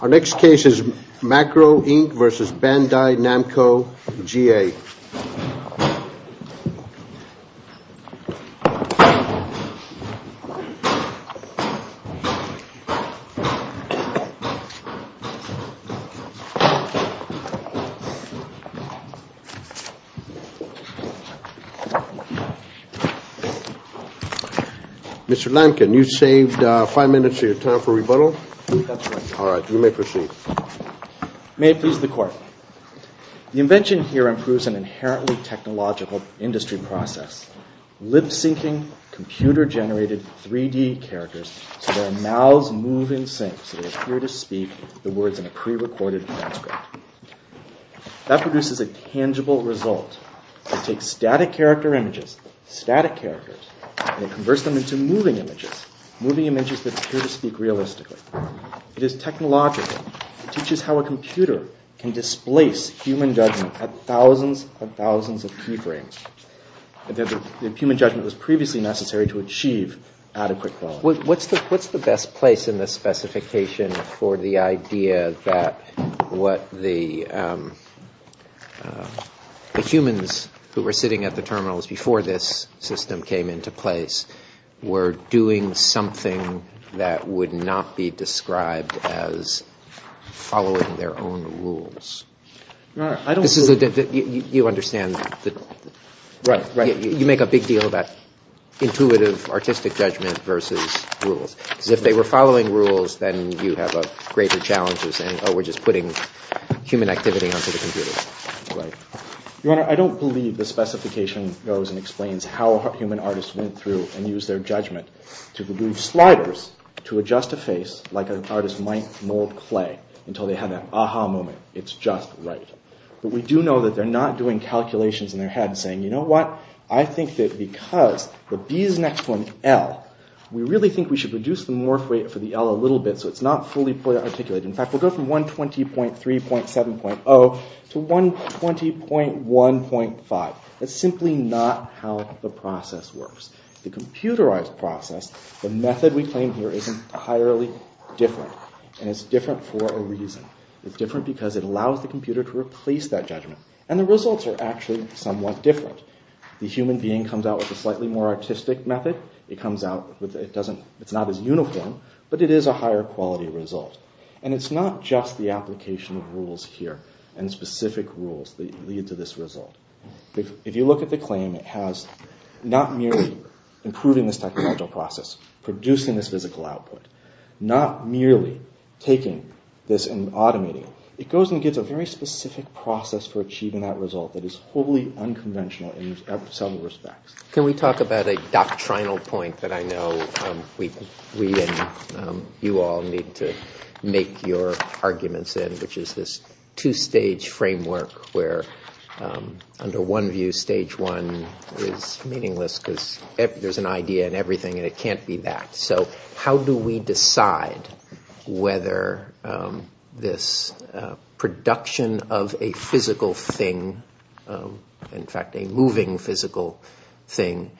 Our next case is Macro, Inc. v. Bandai Namco G.A. Mr. Lankin, you saved five minutes of your time for rebuttal. That's right. All right. You may proceed. May it please the Court. The invention here improves an inherently technological industry process. Lip-syncing computer-generated 3D characters so their mouths move in sync, so they appear to speak the words in a pre-recorded manuscript. That produces a tangible result. It takes static character images, static characters, and it converts them into moving images, moving images that appear to speak realistically. It is technological. It teaches how a computer can displace human judgment at thousands and thousands of keyframes. The human judgment was previously necessary to achieve adequate quality. What's the best place in this specification for the idea that what the humans who were sitting at the terminals before this system came into place were doing something that would not be described as following their own rules? You make a big deal about intuitive artistic judgment versus rules. If they were following rules, then you have a greater challenge of saying, oh, we're just putting human activity onto the computer. Right. Your Honor, I don't believe the specification goes and explains how a human artist went through and used their judgment to remove sliders to adjust a face like an artist might mold clay until they had that aha moment. It's just right. But we do know that they're not doing calculations in their head saying, you know what, I think that because the B is next to an L, we really think we should reduce the morph rate for the L a little bit so it's not fully articulated. In fact, we'll go from 120.3.7.0 to 120.1.5. That's simply not how the process works. The computerized process, the method we claim here is entirely different. And it's different for a reason. It's different because it allows the computer to replace that judgment. And the results are actually somewhat different. The human being comes out with a slightly more artistic method. It's not as uniform, but it is a higher quality result. And it's not just the application of rules here and specific rules that lead to this result. If you look at the claim, it has not merely improving this technological process, producing this physical output, not merely taking this and automating it. It goes and gives a very specific process for achieving that result that is wholly unconventional in some respects. Can we talk about a doctrinal point that I know we and you all need to make your arguments in, which is this two-stage framework where under one view stage one is meaningless because there's an idea in everything and it can't be that. So how do we decide whether this production of a physical thing, in fact a moving physical thing,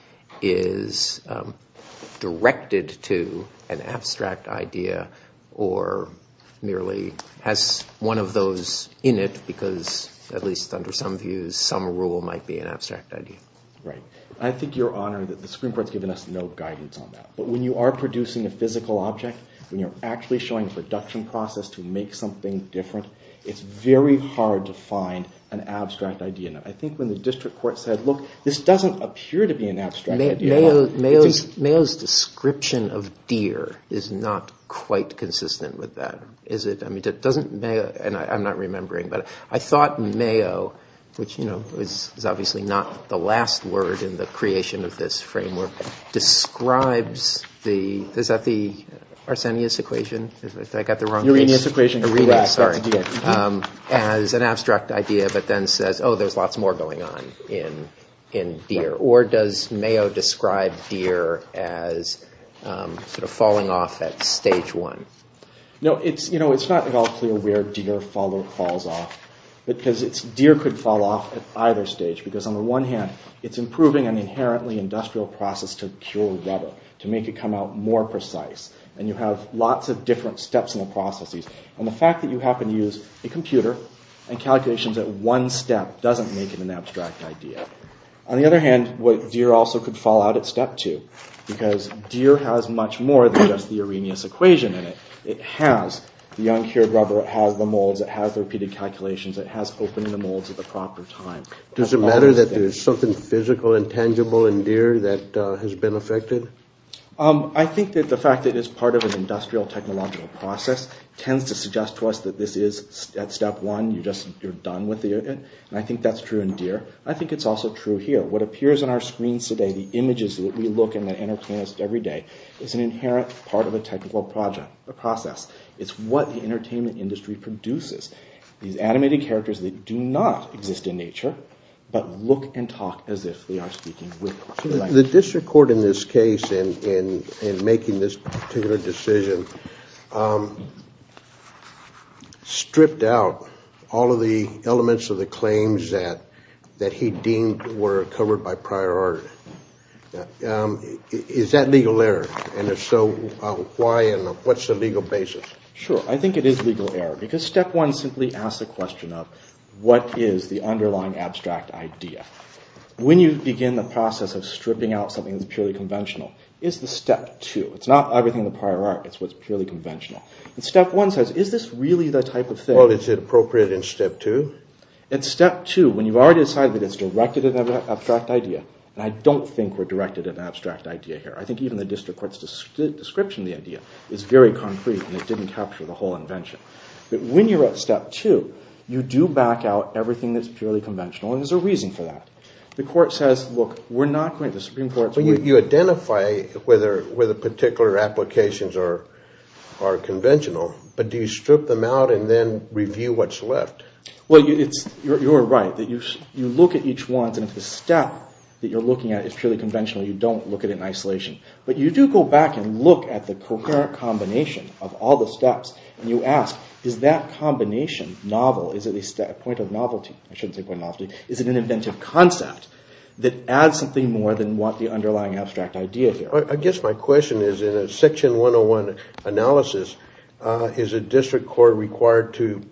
is directed to an abstract idea or merely has one of those in it because, at least under some views, some rule might be an abstract idea? Right. I think, Your Honor, that the Supreme Court has given us no guidance on that. But when you are producing a physical object, when you're actually showing a production process to make something different, it's very hard to find an abstract idea. I think when the district court said, look, this doesn't appear to be an abstract idea. Mayo's description of deer is not quite consistent with that, is it? I mean, doesn't Mayo, and I'm not remembering, but I thought Mayo, which is obviously not the last word in the creation of this framework, describes the, is that the Arsenius equation? Uranus equation. Uranus, sorry, as an abstract idea but then says, oh, there's lots more going on in deer. Or does Mayo describe deer as sort of falling off at stage one? No, it's not at all clear where deer falls off because deer could fall off at either stage because, on the one hand, it's improving an inherently industrial process to cure rubber, to make it come out more precise. And you have lots of different steps and processes. And the fact that you happen to use a computer and calculations at one step doesn't make it an abstract idea. On the other hand, deer also could fall out at step two because deer has much more than just the Arrhenius equation in it. It has the uncured rubber, it has the molds, it has the repeated calculations, it has opening the molds at the proper time. Does it matter that there's something physical and tangible in deer that has been affected? I think that the fact that it's part of an industrial technological process tends to suggest to us that this is at step one, you're done with it. And I think that's true in deer. I think it's also true here. What appears on our screens today, the images that we look and that entertain us every day, is an inherent part of a technical process. It's what the entertainment industry produces. These animated characters that do not exist in nature but look and talk as if they are speaking with us. The district court in this case in making this particular decision stripped out all of the elements of the claims that he deemed were covered by prior art. Is that legal error? And if so, why and what's the legal basis? Sure, I think it is legal error because step one simply asks the question of what is the underlying abstract idea? When you begin the process of stripping out something that's purely conventional, is the step two, it's not everything the prior art, it's what's purely conventional. Step one says, is this really the type of thing... Well, is it appropriate in step two? In step two, when you've already decided that it's directed at an abstract idea, and I don't think we're directed at an abstract idea here. I think even the district court's description of the idea is very concrete and it didn't capture the whole invention. But when you're at step two, you do back out everything that's purely conventional and there's a reason for that. The court says, look, we're not going to... But you identify whether particular applications are conventional, but do you strip them out and then review what's left? Well, you're right. You look at each one and if the step that you're looking at is purely conventional, you don't look at it in isolation. But you do go back and look at the coherent combination of all the steps and you ask, is that combination novel, is it a point of novelty? I shouldn't say point of novelty. Is it an inventive concept that adds something more than what the underlying abstract idea here? I guess my question is, in a section 101 analysis, is a district court required to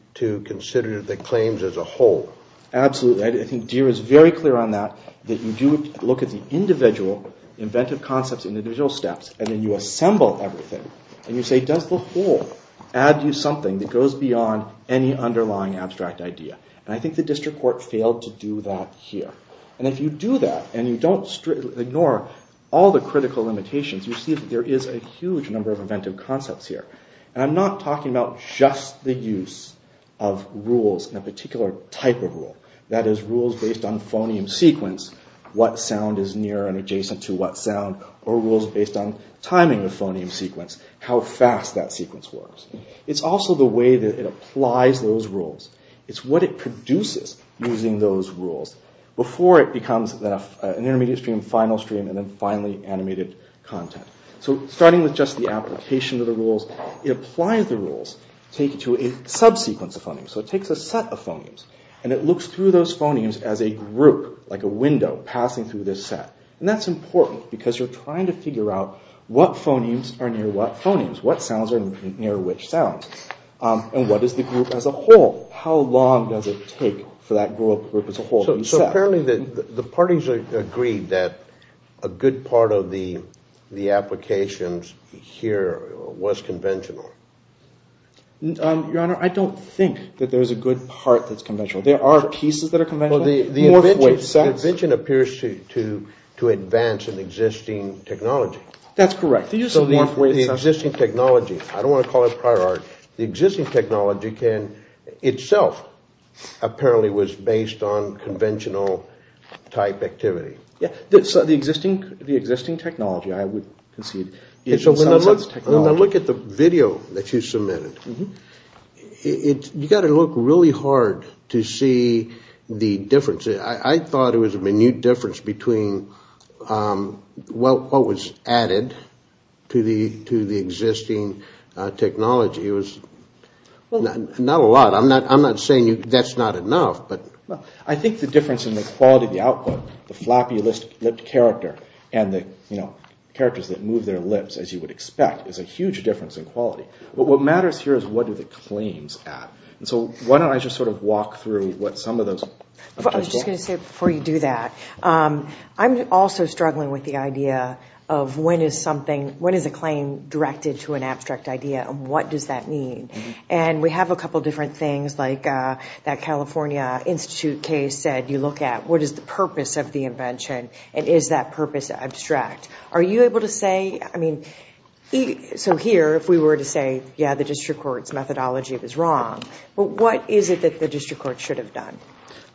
consider the claims as a whole? Absolutely. I think Deere is very clear on that, that you do look at the individual inventive concepts in individual steps and then you assemble everything and you say, does the whole add you something that goes beyond any underlying abstract idea? And I think the district court failed to do that here. And if you do that and you don't ignore all the critical limitations, you see that there is a huge number of inventive concepts here. And I'm not talking about just the use of rules in a particular type of rule. That is, rules based on phoneme sequence, what sound is near and adjacent to what sound, or rules based on timing of phoneme sequence, how fast that sequence works. It's also the way that it applies those rules. It's what it produces using those rules before it becomes an intermediate stream, final stream, and then finally animated content. So starting with just the application of the rules, it applies the rules to a subsequence of phonemes. So it takes a set of phonemes and it looks through those phonemes as a group, like a window passing through this set. And that's important because you're trying to figure out what phonemes are near what phonemes, what sounds are near which sounds, and what is the group as a whole. How long does it take for that group as a whole to be set? So apparently the parties agreed that a good part of the applications here was conventional. Your Honor, I don't think that there's a good part that's conventional. There are pieces that are conventional. The invention appears to advance an existing technology. That's correct. The existing technology. I don't want to call it prior art. The existing technology itself apparently was based on conventional type activity. The existing technology, I would concede. When I look at the video that you submitted, you've got to look really hard to see the difference. I thought it was a minute difference between what was added to the existing technology. It was not a lot. I'm not saying that's not enough. I think the difference in the quality of the output, the flappy-lipped character, and the characters that move their lips, as you would expect, is a huge difference in quality. But what matters here is what are the claims at. So why don't I just sort of walk through what some of those... I was just going to say, before you do that, I'm also struggling with the idea of when is something, when is a claim directed to an abstract idea, and what does that mean? And we have a couple different things, like that California Institute case said, you look at what is the purpose of the invention, and is that purpose abstract? Are you able to say, I mean... So here, if we were to say, yeah, the district court's methodology was wrong, what is it that the district court should have done?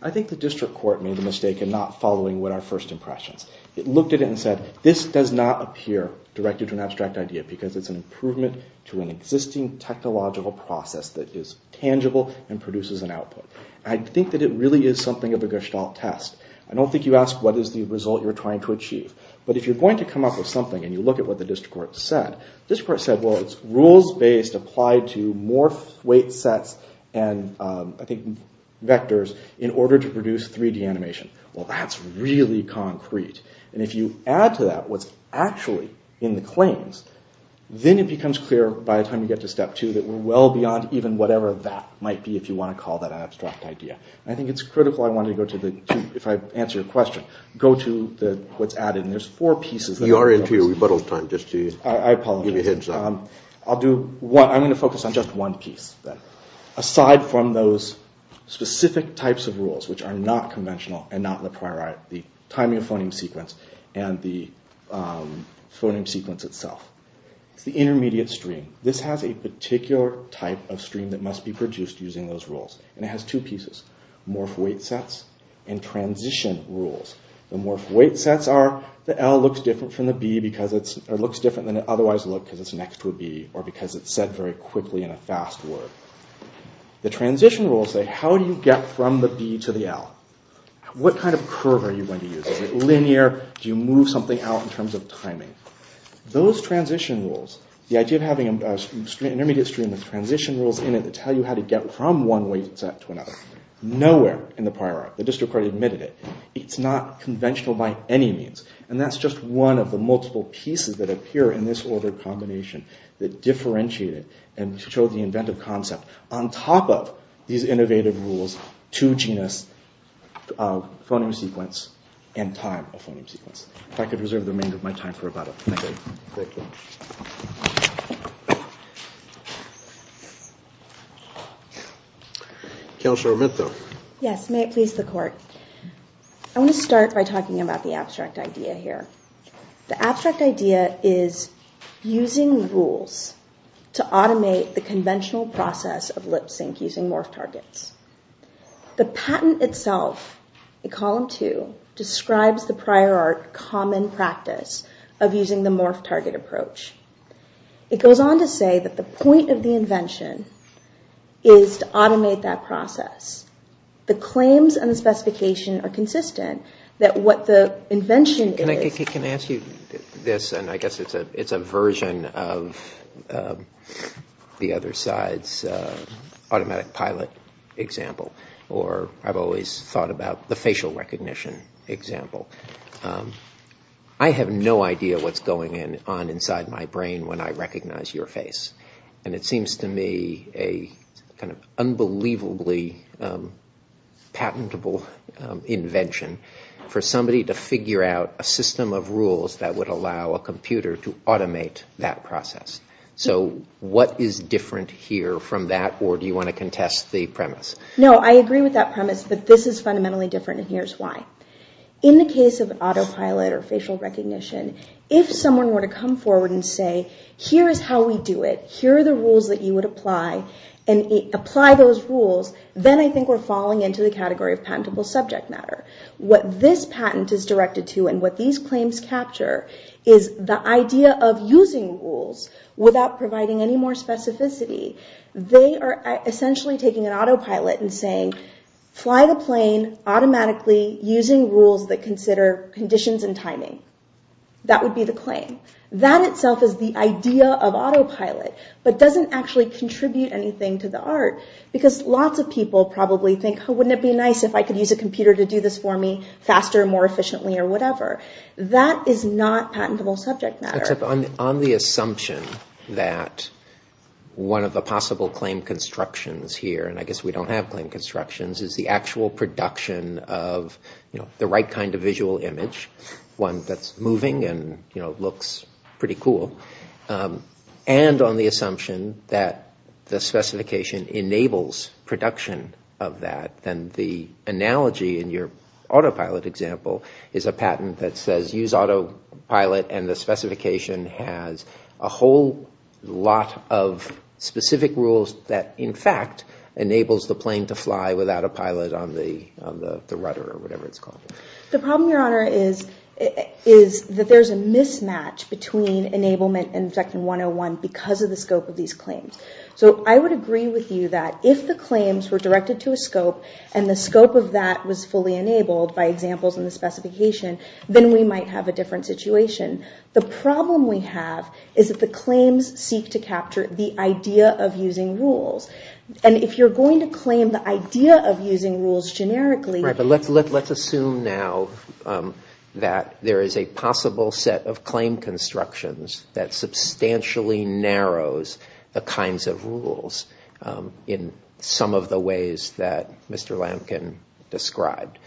I think the district court made a mistake in not following what are first impressions. It looked at it and said, this does not appear directed to an abstract idea, because it's an improvement to an existing technological process that is tangible and produces an output. I think that it really is something of a gestalt test. I don't think you ask, what is the result you're trying to achieve? But if you're going to come up with something, and you look at what the district court said, the district court said, well, it's rules-based, applied to more weight sets and, I think, vectors, in order to produce 3D animation. Well, that's really concrete. And if you add to that what's actually in the claims, then it becomes clear, by the time you get to step two, that we're well beyond even whatever that might be, if you want to call that an abstract idea. I think it's critical, if I answer your question, go to what's added, and there's four pieces... You are into your rebuttal time, just to give you a heads-up. I apologize. I'm going to focus on just one piece, then. It's derived from those specific types of rules, which are not conventional and not in the priori. The timing of phoneme sequence and the phoneme sequence itself. It's the intermediate stream. This has a particular type of stream that must be produced using those rules. And it has two pieces. Morph weight sets and transition rules. The morph weight sets are, the L looks different from the B because it's... It looks different than it otherwise would look, because it's next to a B, or because it's said very quickly in a fast word. The transition rules say, how do you get from the B to the L? What kind of curve are you going to use? Is it linear? Do you move something out in terms of timing? Those transition rules, the idea of having an intermediate stream with transition rules in it that tell you how to get from one weight set to another, nowhere in the priori. The district court admitted it. It's not conventional by any means. And that's just one of the multiple pieces that appear in this ordered combination that differentiate it and show the inventive concept on top of these innovative rules, two genus, phoneme sequence, and time of phoneme sequence. If I could reserve the remainder of my time for about a minute. Thank you. Counselor Arminto. Yes, may it please the court. I want to start by talking about the abstract idea here. The abstract idea is using rules to automate the conventional process of lip sync using morph targets. The patent itself, in column two, describes the prior art common practice of using the morph target approach. It goes on to say that the point of the invention is to automate that process. The claims and the specification are consistent that what the invention is... Can I ask you this? And I guess it's a version of the other side's automatic pilot example. Or I've always thought about the facial recognition example. I have no idea what's going on inside my brain when I recognize your face. And it seems to me a kind of unbelievably patentable invention for somebody to figure out a system of rules that would allow a computer to automate that process. So what is different here from that? Or do you want to contest the premise? No, I agree with that premise. But this is fundamentally different, and here's why. In the case of autopilot or facial recognition, if someone were to come forward and say, here is how we do it. Here are the rules that you would apply. And apply those rules, then I think we're falling into the category of patentable subject matter. What this patent is directed to and what these claims capture is the idea of using rules without providing any more specificity. They are essentially taking an autopilot and saying, fly the plane automatically using rules that consider conditions and timing. That would be the claim. That itself is the idea of autopilot, but doesn't actually contribute anything to the art. Because lots of people probably think, wouldn't it be nice if I could use a computer to do this for me faster, more efficiently, or whatever. That is not patentable subject matter. Except on the assumption that one of the possible claim constructions here, and I guess we don't have claim constructions, is the actual production of the right kind of visual image, one that's moving and looks pretty cool. And on the assumption that the specification enables production of that, then the analogy in your autopilot example is a patent that says use autopilot and the specification has a whole lot of specific rules that in fact enables the plane to fly without a pilot on the rudder or whatever it's called. The problem, Your Honor, is that there's a mismatch between enablement and Objection 101 because of the scope of these claims. So I would agree with you that if the claims were directed to a scope and the scope of that was fully enabled by examples in the specification, then we might have a different situation. The problem we have is that the claims seek to capture the idea of using rules. And if you're going to claim the idea of using rules generically... Right, but let's assume now that there is a possible set of claim constructions that substantially narrows the kinds of rules in some of the ways that Mr. Lampkin described.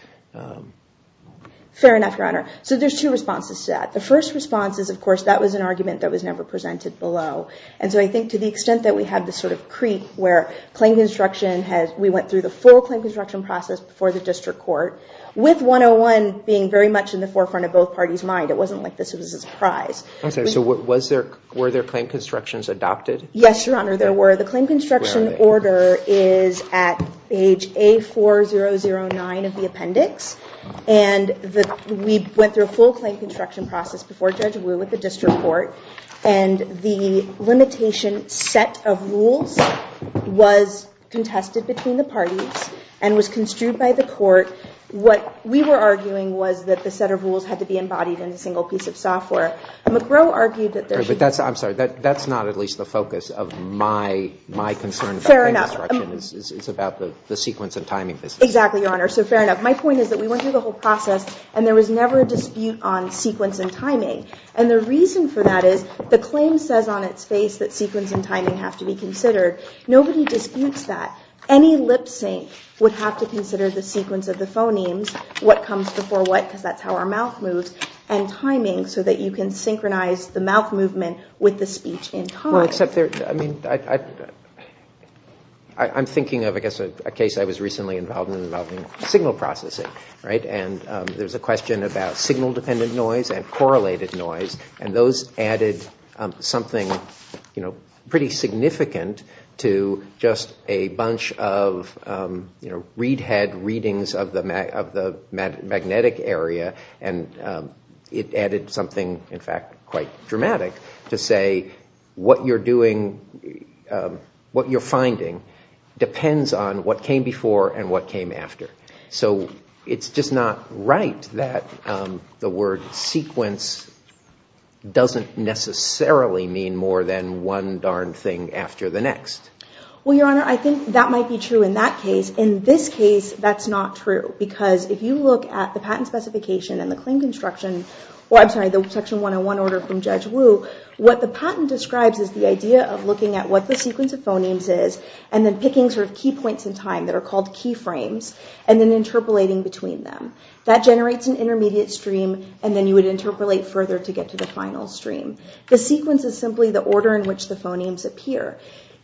Fair enough, Your Honor. So there's two responses to that. The first response is, of course, that was an argument that was never presented below. And so I think to the extent that we have this sort of creep where claim construction has... we went through the full claim construction process before the District Court, with 101 being very much in the forefront of both parties' mind. It wasn't like this was a surprise. Okay, so were there claim constructions adopted? Yes, Your Honor, there were. The claim construction order is at page A4009 of the appendix. And we went through a full claim construction process before Judge Wu at the District Court. And the limitation set of rules was contested between the parties and was construed by the court. What we were arguing was that the set of rules had to be embodied in a single piece of software. McGrow argued that there should be... I'm sorry, that's not at least the focus of my concern about claim construction. Fair enough. It's about the sequence and timing business. Exactly, Your Honor. So fair enough. My point is that we went through the whole process and there was never a dispute on sequence and timing. And the reason for that is the claim says on its face that sequence and timing have to be considered. Nobody disputes that. Any lip sync would have to consider the sequence of the phonemes, what comes before what, because that's how our mouth moves, and timing so that you can synchronize the mouth movement with the speech in time. Well, except there... I'm thinking of, I guess, a case I was recently involved in involving signal processing. And there's a question about signal-dependent noise and correlated noise. And those added something pretty significant to just a bunch of, you know, read-head readings of the magnetic area, and it added something, in fact, quite dramatic to say what you're doing, what you're finding, depends on what came before and what came after. So it's just not right that the word sequence doesn't necessarily mean more than one darn thing after the next. Well, Your Honor, I think that might be true in that case. In this case, that's not true. Because if you look at the patent specification and the claim construction, or I'm sorry, the Section 101 order from Judge Wu, what the patent describes is the idea of looking at what the sequence of phonemes is and then picking sort of key points in time that are called key frames and then interpolating between them. That generates an intermediate stream, and then you would interpolate further to get to the final stream. The sequence is simply the order in which the phonemes appear.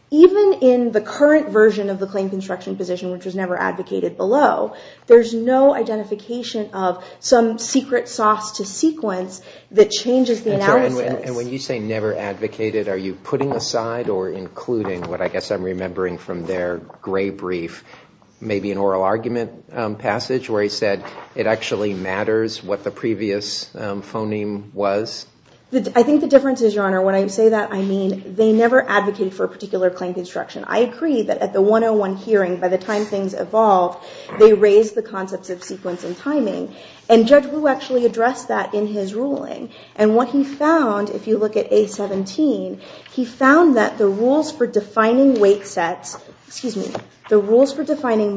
Even in the current version of the claim construction position, which was never advocated below, there's no identification of some secret sauce to sequence that changes the analysis. And when you say never advocated, are you putting aside or including what I guess I'm remembering from their gray brief, maybe an oral argument passage, where he said, it actually matters what the previous phoneme was? I think the difference is, Your Honor, when I say that, I mean they never advocated for a particular claim construction. I agree that at the 101 hearing, by the time things evolved, they raised the concepts of sequence and timing. And Judge Wu actually addressed that in his ruling. And what he found, if you look at A-17, he found that the rules for defining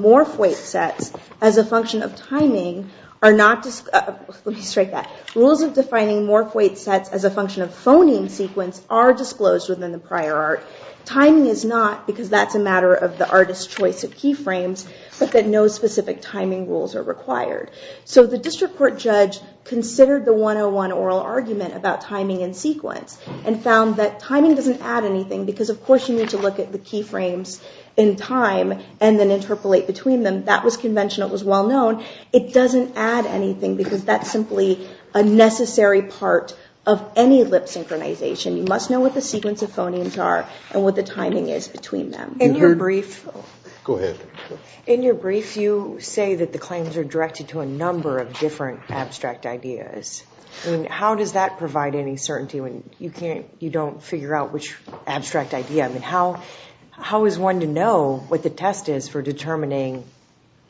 morph weight sets as a function of timing are not just, let me strike that, rules of defining morph weight sets as a function of phoneme sequence are disclosed within the prior art. Timing is not, because that's a matter of the artist's choice of key frames, but that no specific timing rules are required. So the district court judge considered the 101 oral argument about timing and sequence and found that timing doesn't add anything, because of course you need to look at the key frames in time and then interpolate between them. That was conventional. It was well known. It doesn't add anything, because that's simply a necessary part of any lip synchronization. You must know what the sequence of phonemes are and what the timing is between them. In your brief, you say that the claims are directed to a number of different abstract ideas. How does that provide any certainty when you don't figure out which abstract idea? How is one to know what the test is for determining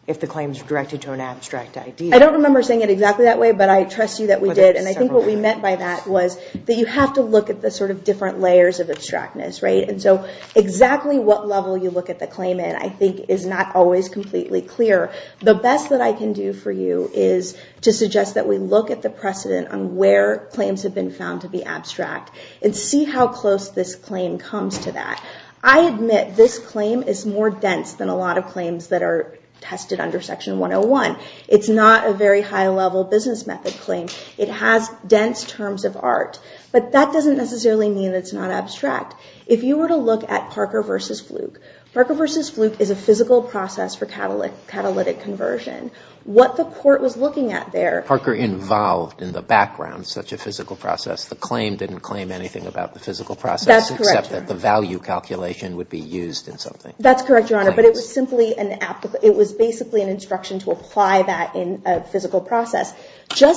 if the claims are directed to an abstract idea? I don't remember saying it exactly that way, but I trust you that we did. And I think what we meant by that was that you have to look at the different layers of abstractness. And so exactly what level you look at the claim in, I think, is not always completely clear. The best that I can do for you is to suggest that we look at the precedent on where claims have been found to be abstract and see how close this claim comes to that. I admit this claim is more dense than a lot of claims that are tested under Section 101. It's not a very high-level business method claim. It has dense terms of art. But that doesn't necessarily mean it's not abstract. If you were to look at Parker v. Fluke, Parker v. Fluke is a physical process for catalytic conversion. What the court was looking at there Parker involved in the background such a physical process. The claim didn't claim anything about the physical process, except that the value calculation would be used in something. That's correct, Your Honor. But it was basically an instruction to apply that in a physical process. I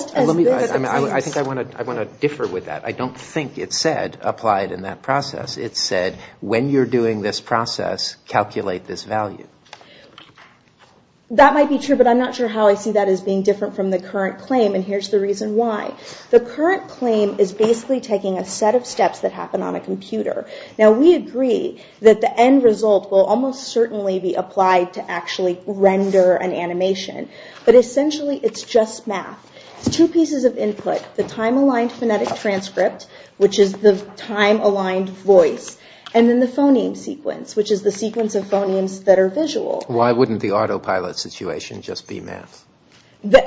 think I want to differ with that. I don't think it said, apply it in that process. It said, when you're doing this process, calculate this value. That might be true. But I'm not sure how I see that as being different from the current claim. And here's the reason why. The current claim is basically taking a set of steps that happen on a computer. Now, we agree that the end result will almost certainly be applied to actually render an animation. But essentially, it's just math. It's two pieces of input, the time-aligned phonetic transcript, which is the time-aligned voice, and then the phoneme sequence, which is the sequence of phonemes that are visual. Why wouldn't the autopilot situation just be math?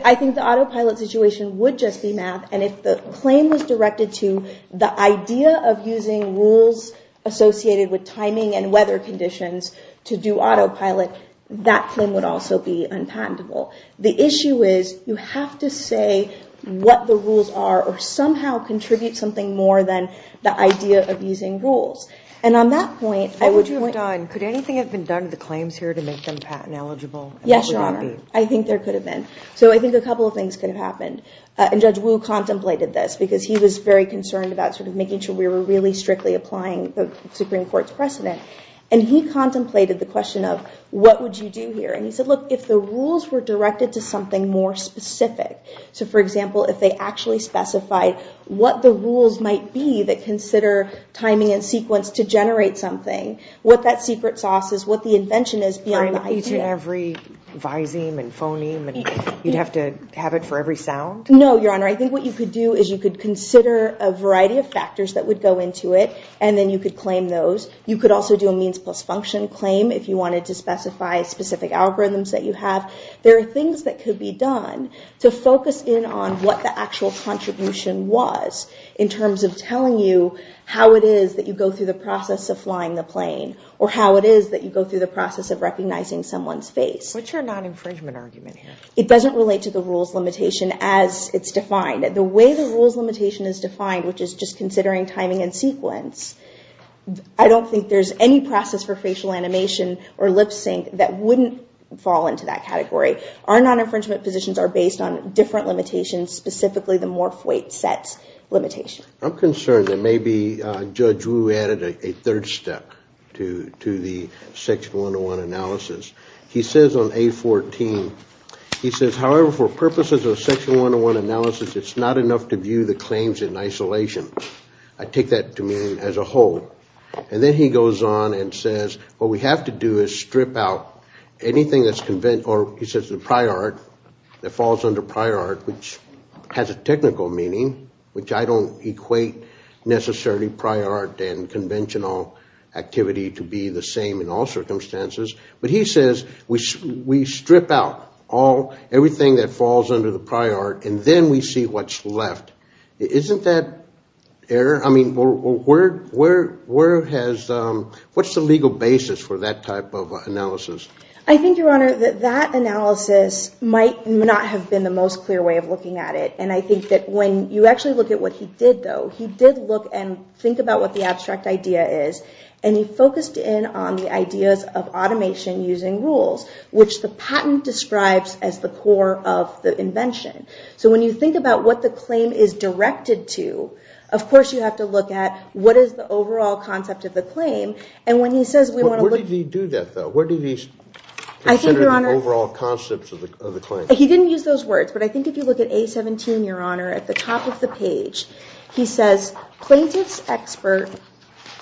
I think the autopilot situation would just be math. And if the claim was directed to the idea of using rules associated with timing and weather conditions to do autopilot, that claim would also be unpatentable. The issue is, you have to say what the rules are or somehow contribute something more than the idea of using rules. And on that point, I would point out. Could anything have been done to the claims here to make them patent eligible? Yes, Your Honor. I think there could have been. So I think a couple of things could have happened. And Judge Wu contemplated this, because he was very concerned about making sure we were really strictly applying the Supreme Court's precedent. And he contemplated the question of, what would you do here? And he said, look, if the rules were directed to something more specific, so for example, if they actually specified what the rules might be that consider timing and sequence to generate something, what that secret sauce is, what the invention is, beyond the idea. Each and every viseme and phoneme, and you'd have to have it for every sound? No, Your Honor. I think what you could do is you could consider a variety of factors that would go into it, and then you could claim those. You could also do a means plus function claim if you wanted to specify specific algorithms that you have. There are things that could be done to focus in on what the actual contribution was, in terms of telling you how it is that you go through the process of flying the plane, or how it is that you go through the process of recognizing someone's face. What's your non-infringement argument here? It doesn't relate to the rules limitation as it's defined. The way the rules limitation is defined, which is just considering timing and sequence, I don't think there's any process for facial animation or lip sync that wouldn't fall into that category. Our non-infringement positions are based on different limitations, specifically the morph weight sets limitation. I'm concerned that maybe Judge Wu added a third step to the Section 101 analysis. He says on A14, he says, however, for purposes of Section 101 analysis, it's not enough to view the claims in isolation. I take that to mean as a whole. And then he goes on and says, what we have to do is strip out anything that's conventional, or he says the prior art, that falls under prior art, which has a technical meaning, which I don't equate necessarily prior art and conventional activity to be the same in all circumstances. But he says, we strip out everything that falls under the prior art, and then we see what's left. Isn't that error? What's the legal basis for that type of analysis? I think, Your Honor, that that analysis might not have been the most clear way of looking at it. And I think that when you actually look at what he did, though, he did look and think about what the abstract idea is, and he focused in on the ideas of automation using rules, which the patent describes as the core of the invention. So when you think about what the claim is directed to, of course you have to look at what is the overall concept of the claim. Where did he do that, though? Where did he consider the overall concept of the claim? He didn't use those words, but I think if you look at A17, Your Honor, at the top of the page, he says, plaintiff's expert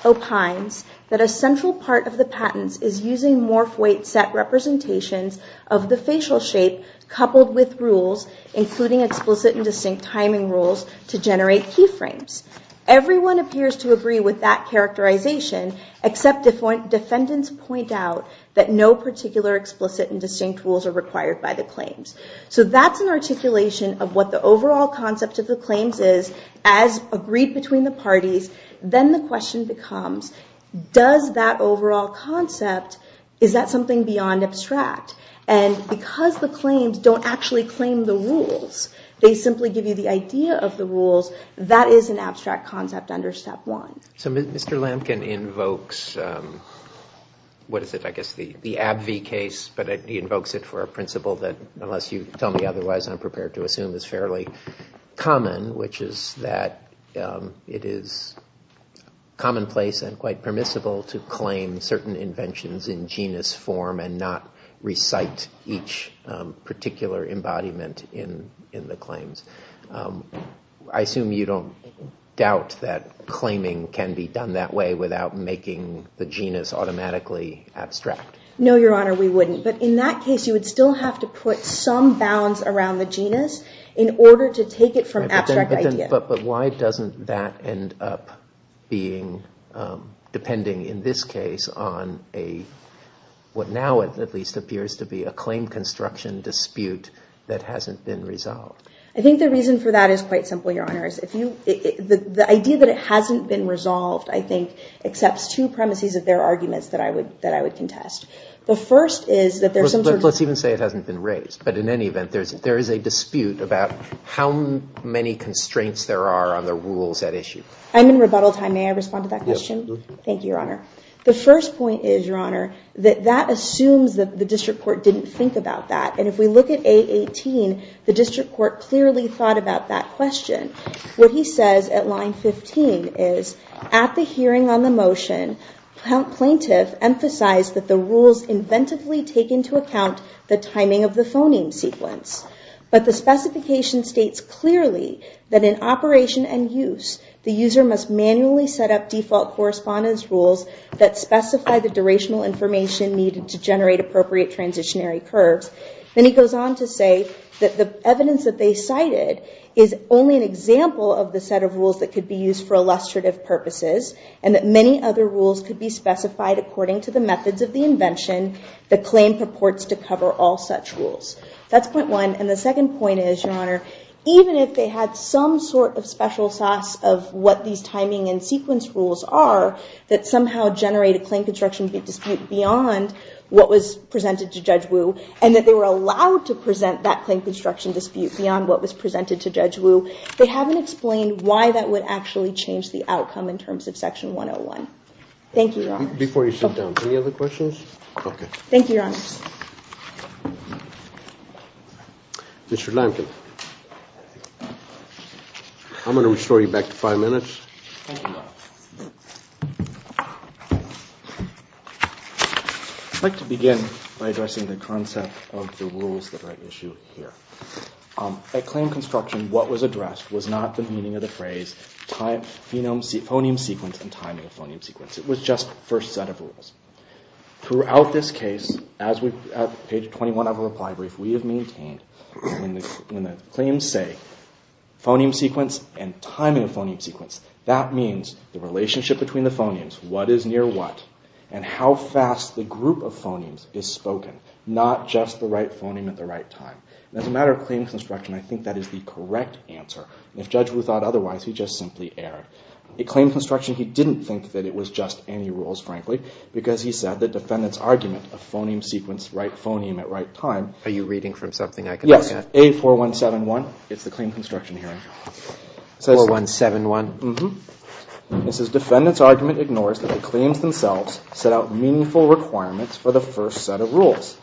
opines that a central part of the patents is using morphoid set representations of the facial shape coupled with rules, including explicit and distinct timing rules, to generate key frames. Everyone appears to agree with that characterization, except defendants point out that no particular explicit and distinct rules are required by the claims. So that's an articulation of what the overall concept of the claims is. As agreed between the parties, then the question becomes, does that overall concept, is that something beyond abstract? And because the claims don't actually claim the rules, they simply give you the idea of the rules, that is an abstract concept under Step 1. So Mr. Lampkin invokes, what is it, I guess the AbbVie case, but he invokes it for a principle that, unless you tell me otherwise, I'm prepared to assume is fairly common, which is that it is commonplace and quite permissible to claim certain inventions in genus form and not recite each particular embodiment in the claims. I assume you don't doubt that claiming can be done that way without making the genus automatically abstract? No, Your Honor, we wouldn't. But in that case, you would still have to put some bounds around the genus in order to take it from abstract idea. But why doesn't that end up being, depending in this case on a, what now at least appears to be a claim construction dispute that hasn't been resolved? I think the reason for that is quite simple, Your Honor. The idea that it hasn't been resolved, I think, accepts two premises of their arguments that I would contest. Let's even say it hasn't been raised, but in any event, there is a dispute about how many constraints there are on the rules at issue. I'm in rebuttal time. May I respond to that question? Thank you, Your Honor. The first point is, Your Honor, that assumes that the district court didn't think about that. And if we look at A18, the district court clearly thought about that question. What he says at line 15 is, at the hearing on the motion, Plaintiff emphasized that the rules inventively take into account the timing of the phoneme sequence. But the specification states clearly that in operation and use, the user must manually set up default correspondence rules that specify the durational information needed to generate appropriate transitionary curves. Then he goes on to say that the evidence that they cited is only an example of the set of rules that could be used for illustrative purposes and that many other rules could be specified according to the methods of the invention the claim purports to cover all such rules. That's point one. And the second point is, Your Honor, even if they had some sort of special sauce of what these timing and sequence rules are, that somehow generate a claim construction dispute beyond what was presented to Judge Wu, and that they were allowed to present that claim construction dispute beyond what was presented to Judge Wu, they haven't explained why that would actually change the outcome in terms of Section 101. Thank you, Your Honor. Thank you, Your Honor. Mr. Lampkin. I'm going to restore you back to five minutes. Thank you, Your Honor. I'd like to begin by addressing the concept of the rules that are at issue here. At claim construction, what was addressed was not the meaning of the phrase phoneme sequence and timing of phoneme sequence. It was just the first set of rules. Throughout this case, at page 21 of our reply brief, we have maintained that when the claims say phoneme sequence and timing of phoneme sequence, that means the relationship between the phonemes, what is near what, and how fast the group of phonemes is spoken, not just the right phoneme at the right time. As a matter of claim construction, I think that is the correct answer. If Judge Wu thought otherwise, he just simply erred. At claim construction, he didn't think that it was just any rules, frankly, because he said the defendant's argument of phoneme sequence, right phoneme at right time... Are you reading from something I can look at? Yes. A4171. It's the claim construction hearing. 4171? It says, defendant's argument ignores that the claims themselves set out meaningful requirements for the first set of rules.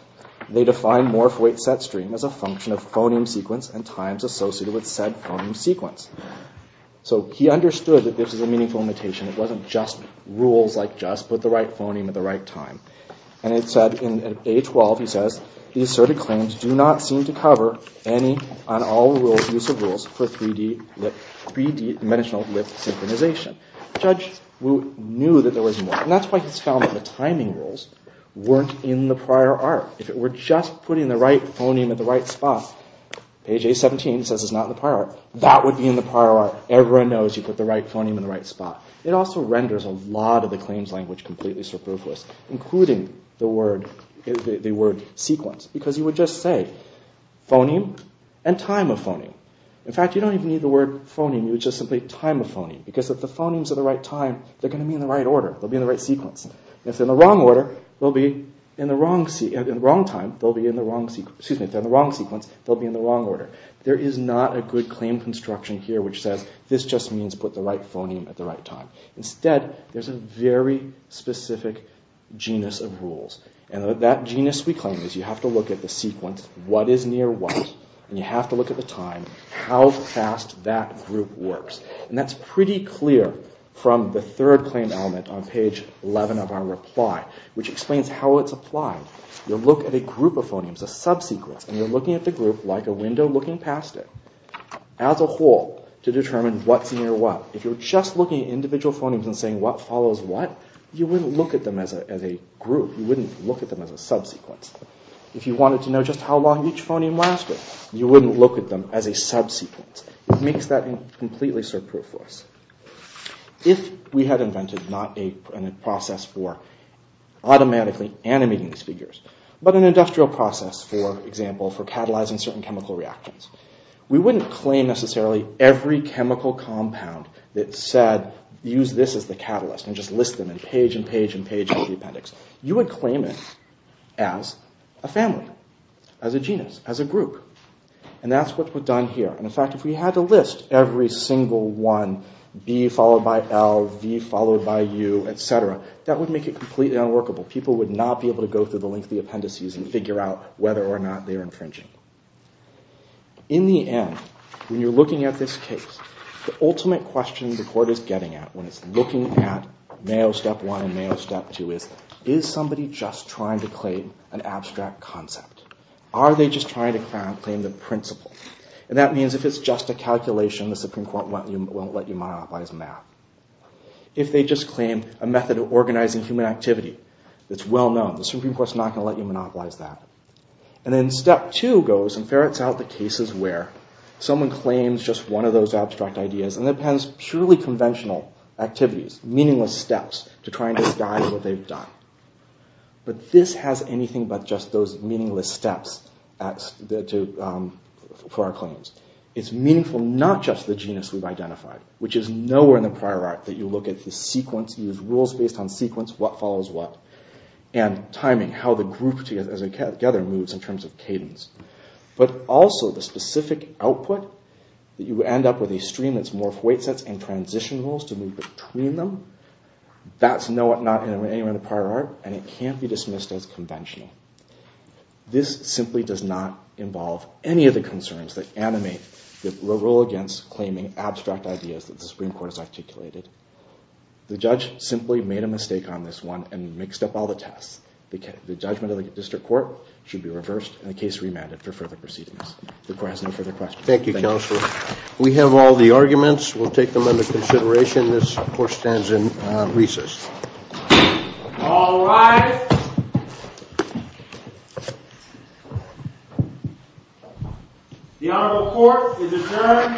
They define morph weight set stream as a function of phoneme sequence and times associated with said phoneme sequence. So he understood that this was a meaningful limitation. It wasn't just rules like just put the right phoneme at the right time. And it said in A12, he says, the asserted claims do not seem to cover any and all use of rules for 3D lip 3D dimensional lip synchronization. Judge Wu knew that there was more. And that's why he's found that the timing rules weren't in the prior art. If it were just putting the right phoneme at the right spot, page A17 says it's not in the prior art. That would be in the prior art. Everyone knows you put the right phoneme in the right spot. It also renders a lot of the claims language completely superfluous, including the word sequence, because you would just say phoneme and time of phoneme. In fact, you don't even need the word phoneme. You would just simply time of phoneme. Because if the phonemes are the right time, they're going to be in the right order. They'll be in the right sequence. If they're in the wrong sequence, they'll be in the wrong order. There is not a good claim construction here which says this just means put the right phoneme at the right time. Instead, there's a very specific genus of rules. And that genus, we claim, is you have to look at the sequence, what is near what, and you have to look at the time, how fast that group works. And that's pretty clear from the third claim element on page 11 of our reply, which explains how it's applied. You look at a group of phonemes, a subsequence, and you're looking at the group like a window looking past it as a whole to determine what's near what. If you're just looking at individual phonemes and saying what follows what, you wouldn't look at them as a group. You wouldn't look at them as a subsequence. If you wanted to know just how long each phoneme lasted, you wouldn't look at them as a subsequence. It makes that completely surproof for us. If we had invented not a process for automatically animating these figures, but an industrial process, for example, for catalyzing certain chemical reactions, we wouldn't claim necessarily every chemical compound that said use this as the catalyst and just list them in page and page and page of the appendix. You would claim it as a family, as a genus, as a group. And that's what we've done here. In fact, if we had to list every single one, B followed by L, V followed by U, etc., that would make it completely unworkable. People would not be able to go through the length of the appendices and figure out whether or not they're infringing. In the end, when you're looking at this case, the ultimate question the court is getting at when it's looking at Mayo Step 1 and Mayo Step 2 is, is somebody just trying to claim an abstract concept? Are they just trying to claim the principle? And that means if it's just a calculation, the Supreme Court won't let you monopolize math. If they just claim a method of organizing human activity that's well-known, the Supreme Court's not going to let you monopolize that. And then Step 2 goes and ferrets out the cases where someone claims just one of those abstract ideas and appends purely conventional activities, meaningless steps, to try and disguise what they've done. But this has anything but just those meaningless steps for our claims. It's meaningful not just the genus we've identified, which is nowhere in the prior art that you look at the sequence, use rules based on sequence, what follows what, and timing, how the group together moves in terms of cadence, but also the specific output that you end up with a stream that's more weight sets and transition rules to move between them. That's nowhere in the prior art, and it can't be dismissed as conventional. This simply does not involve any of the concerns that animate the rule against claiming abstract ideas that the Supreme Court has articulated. The judge simply made a mistake on this one and mixed up all the tests. The judgment of the district court should be reversed and the case remanded for further proceedings. Thank you, counsel. We have all the arguments. We'll take them under consideration. This, of course, stands in recess. All rise. The Honorable Court is adjourned from day today.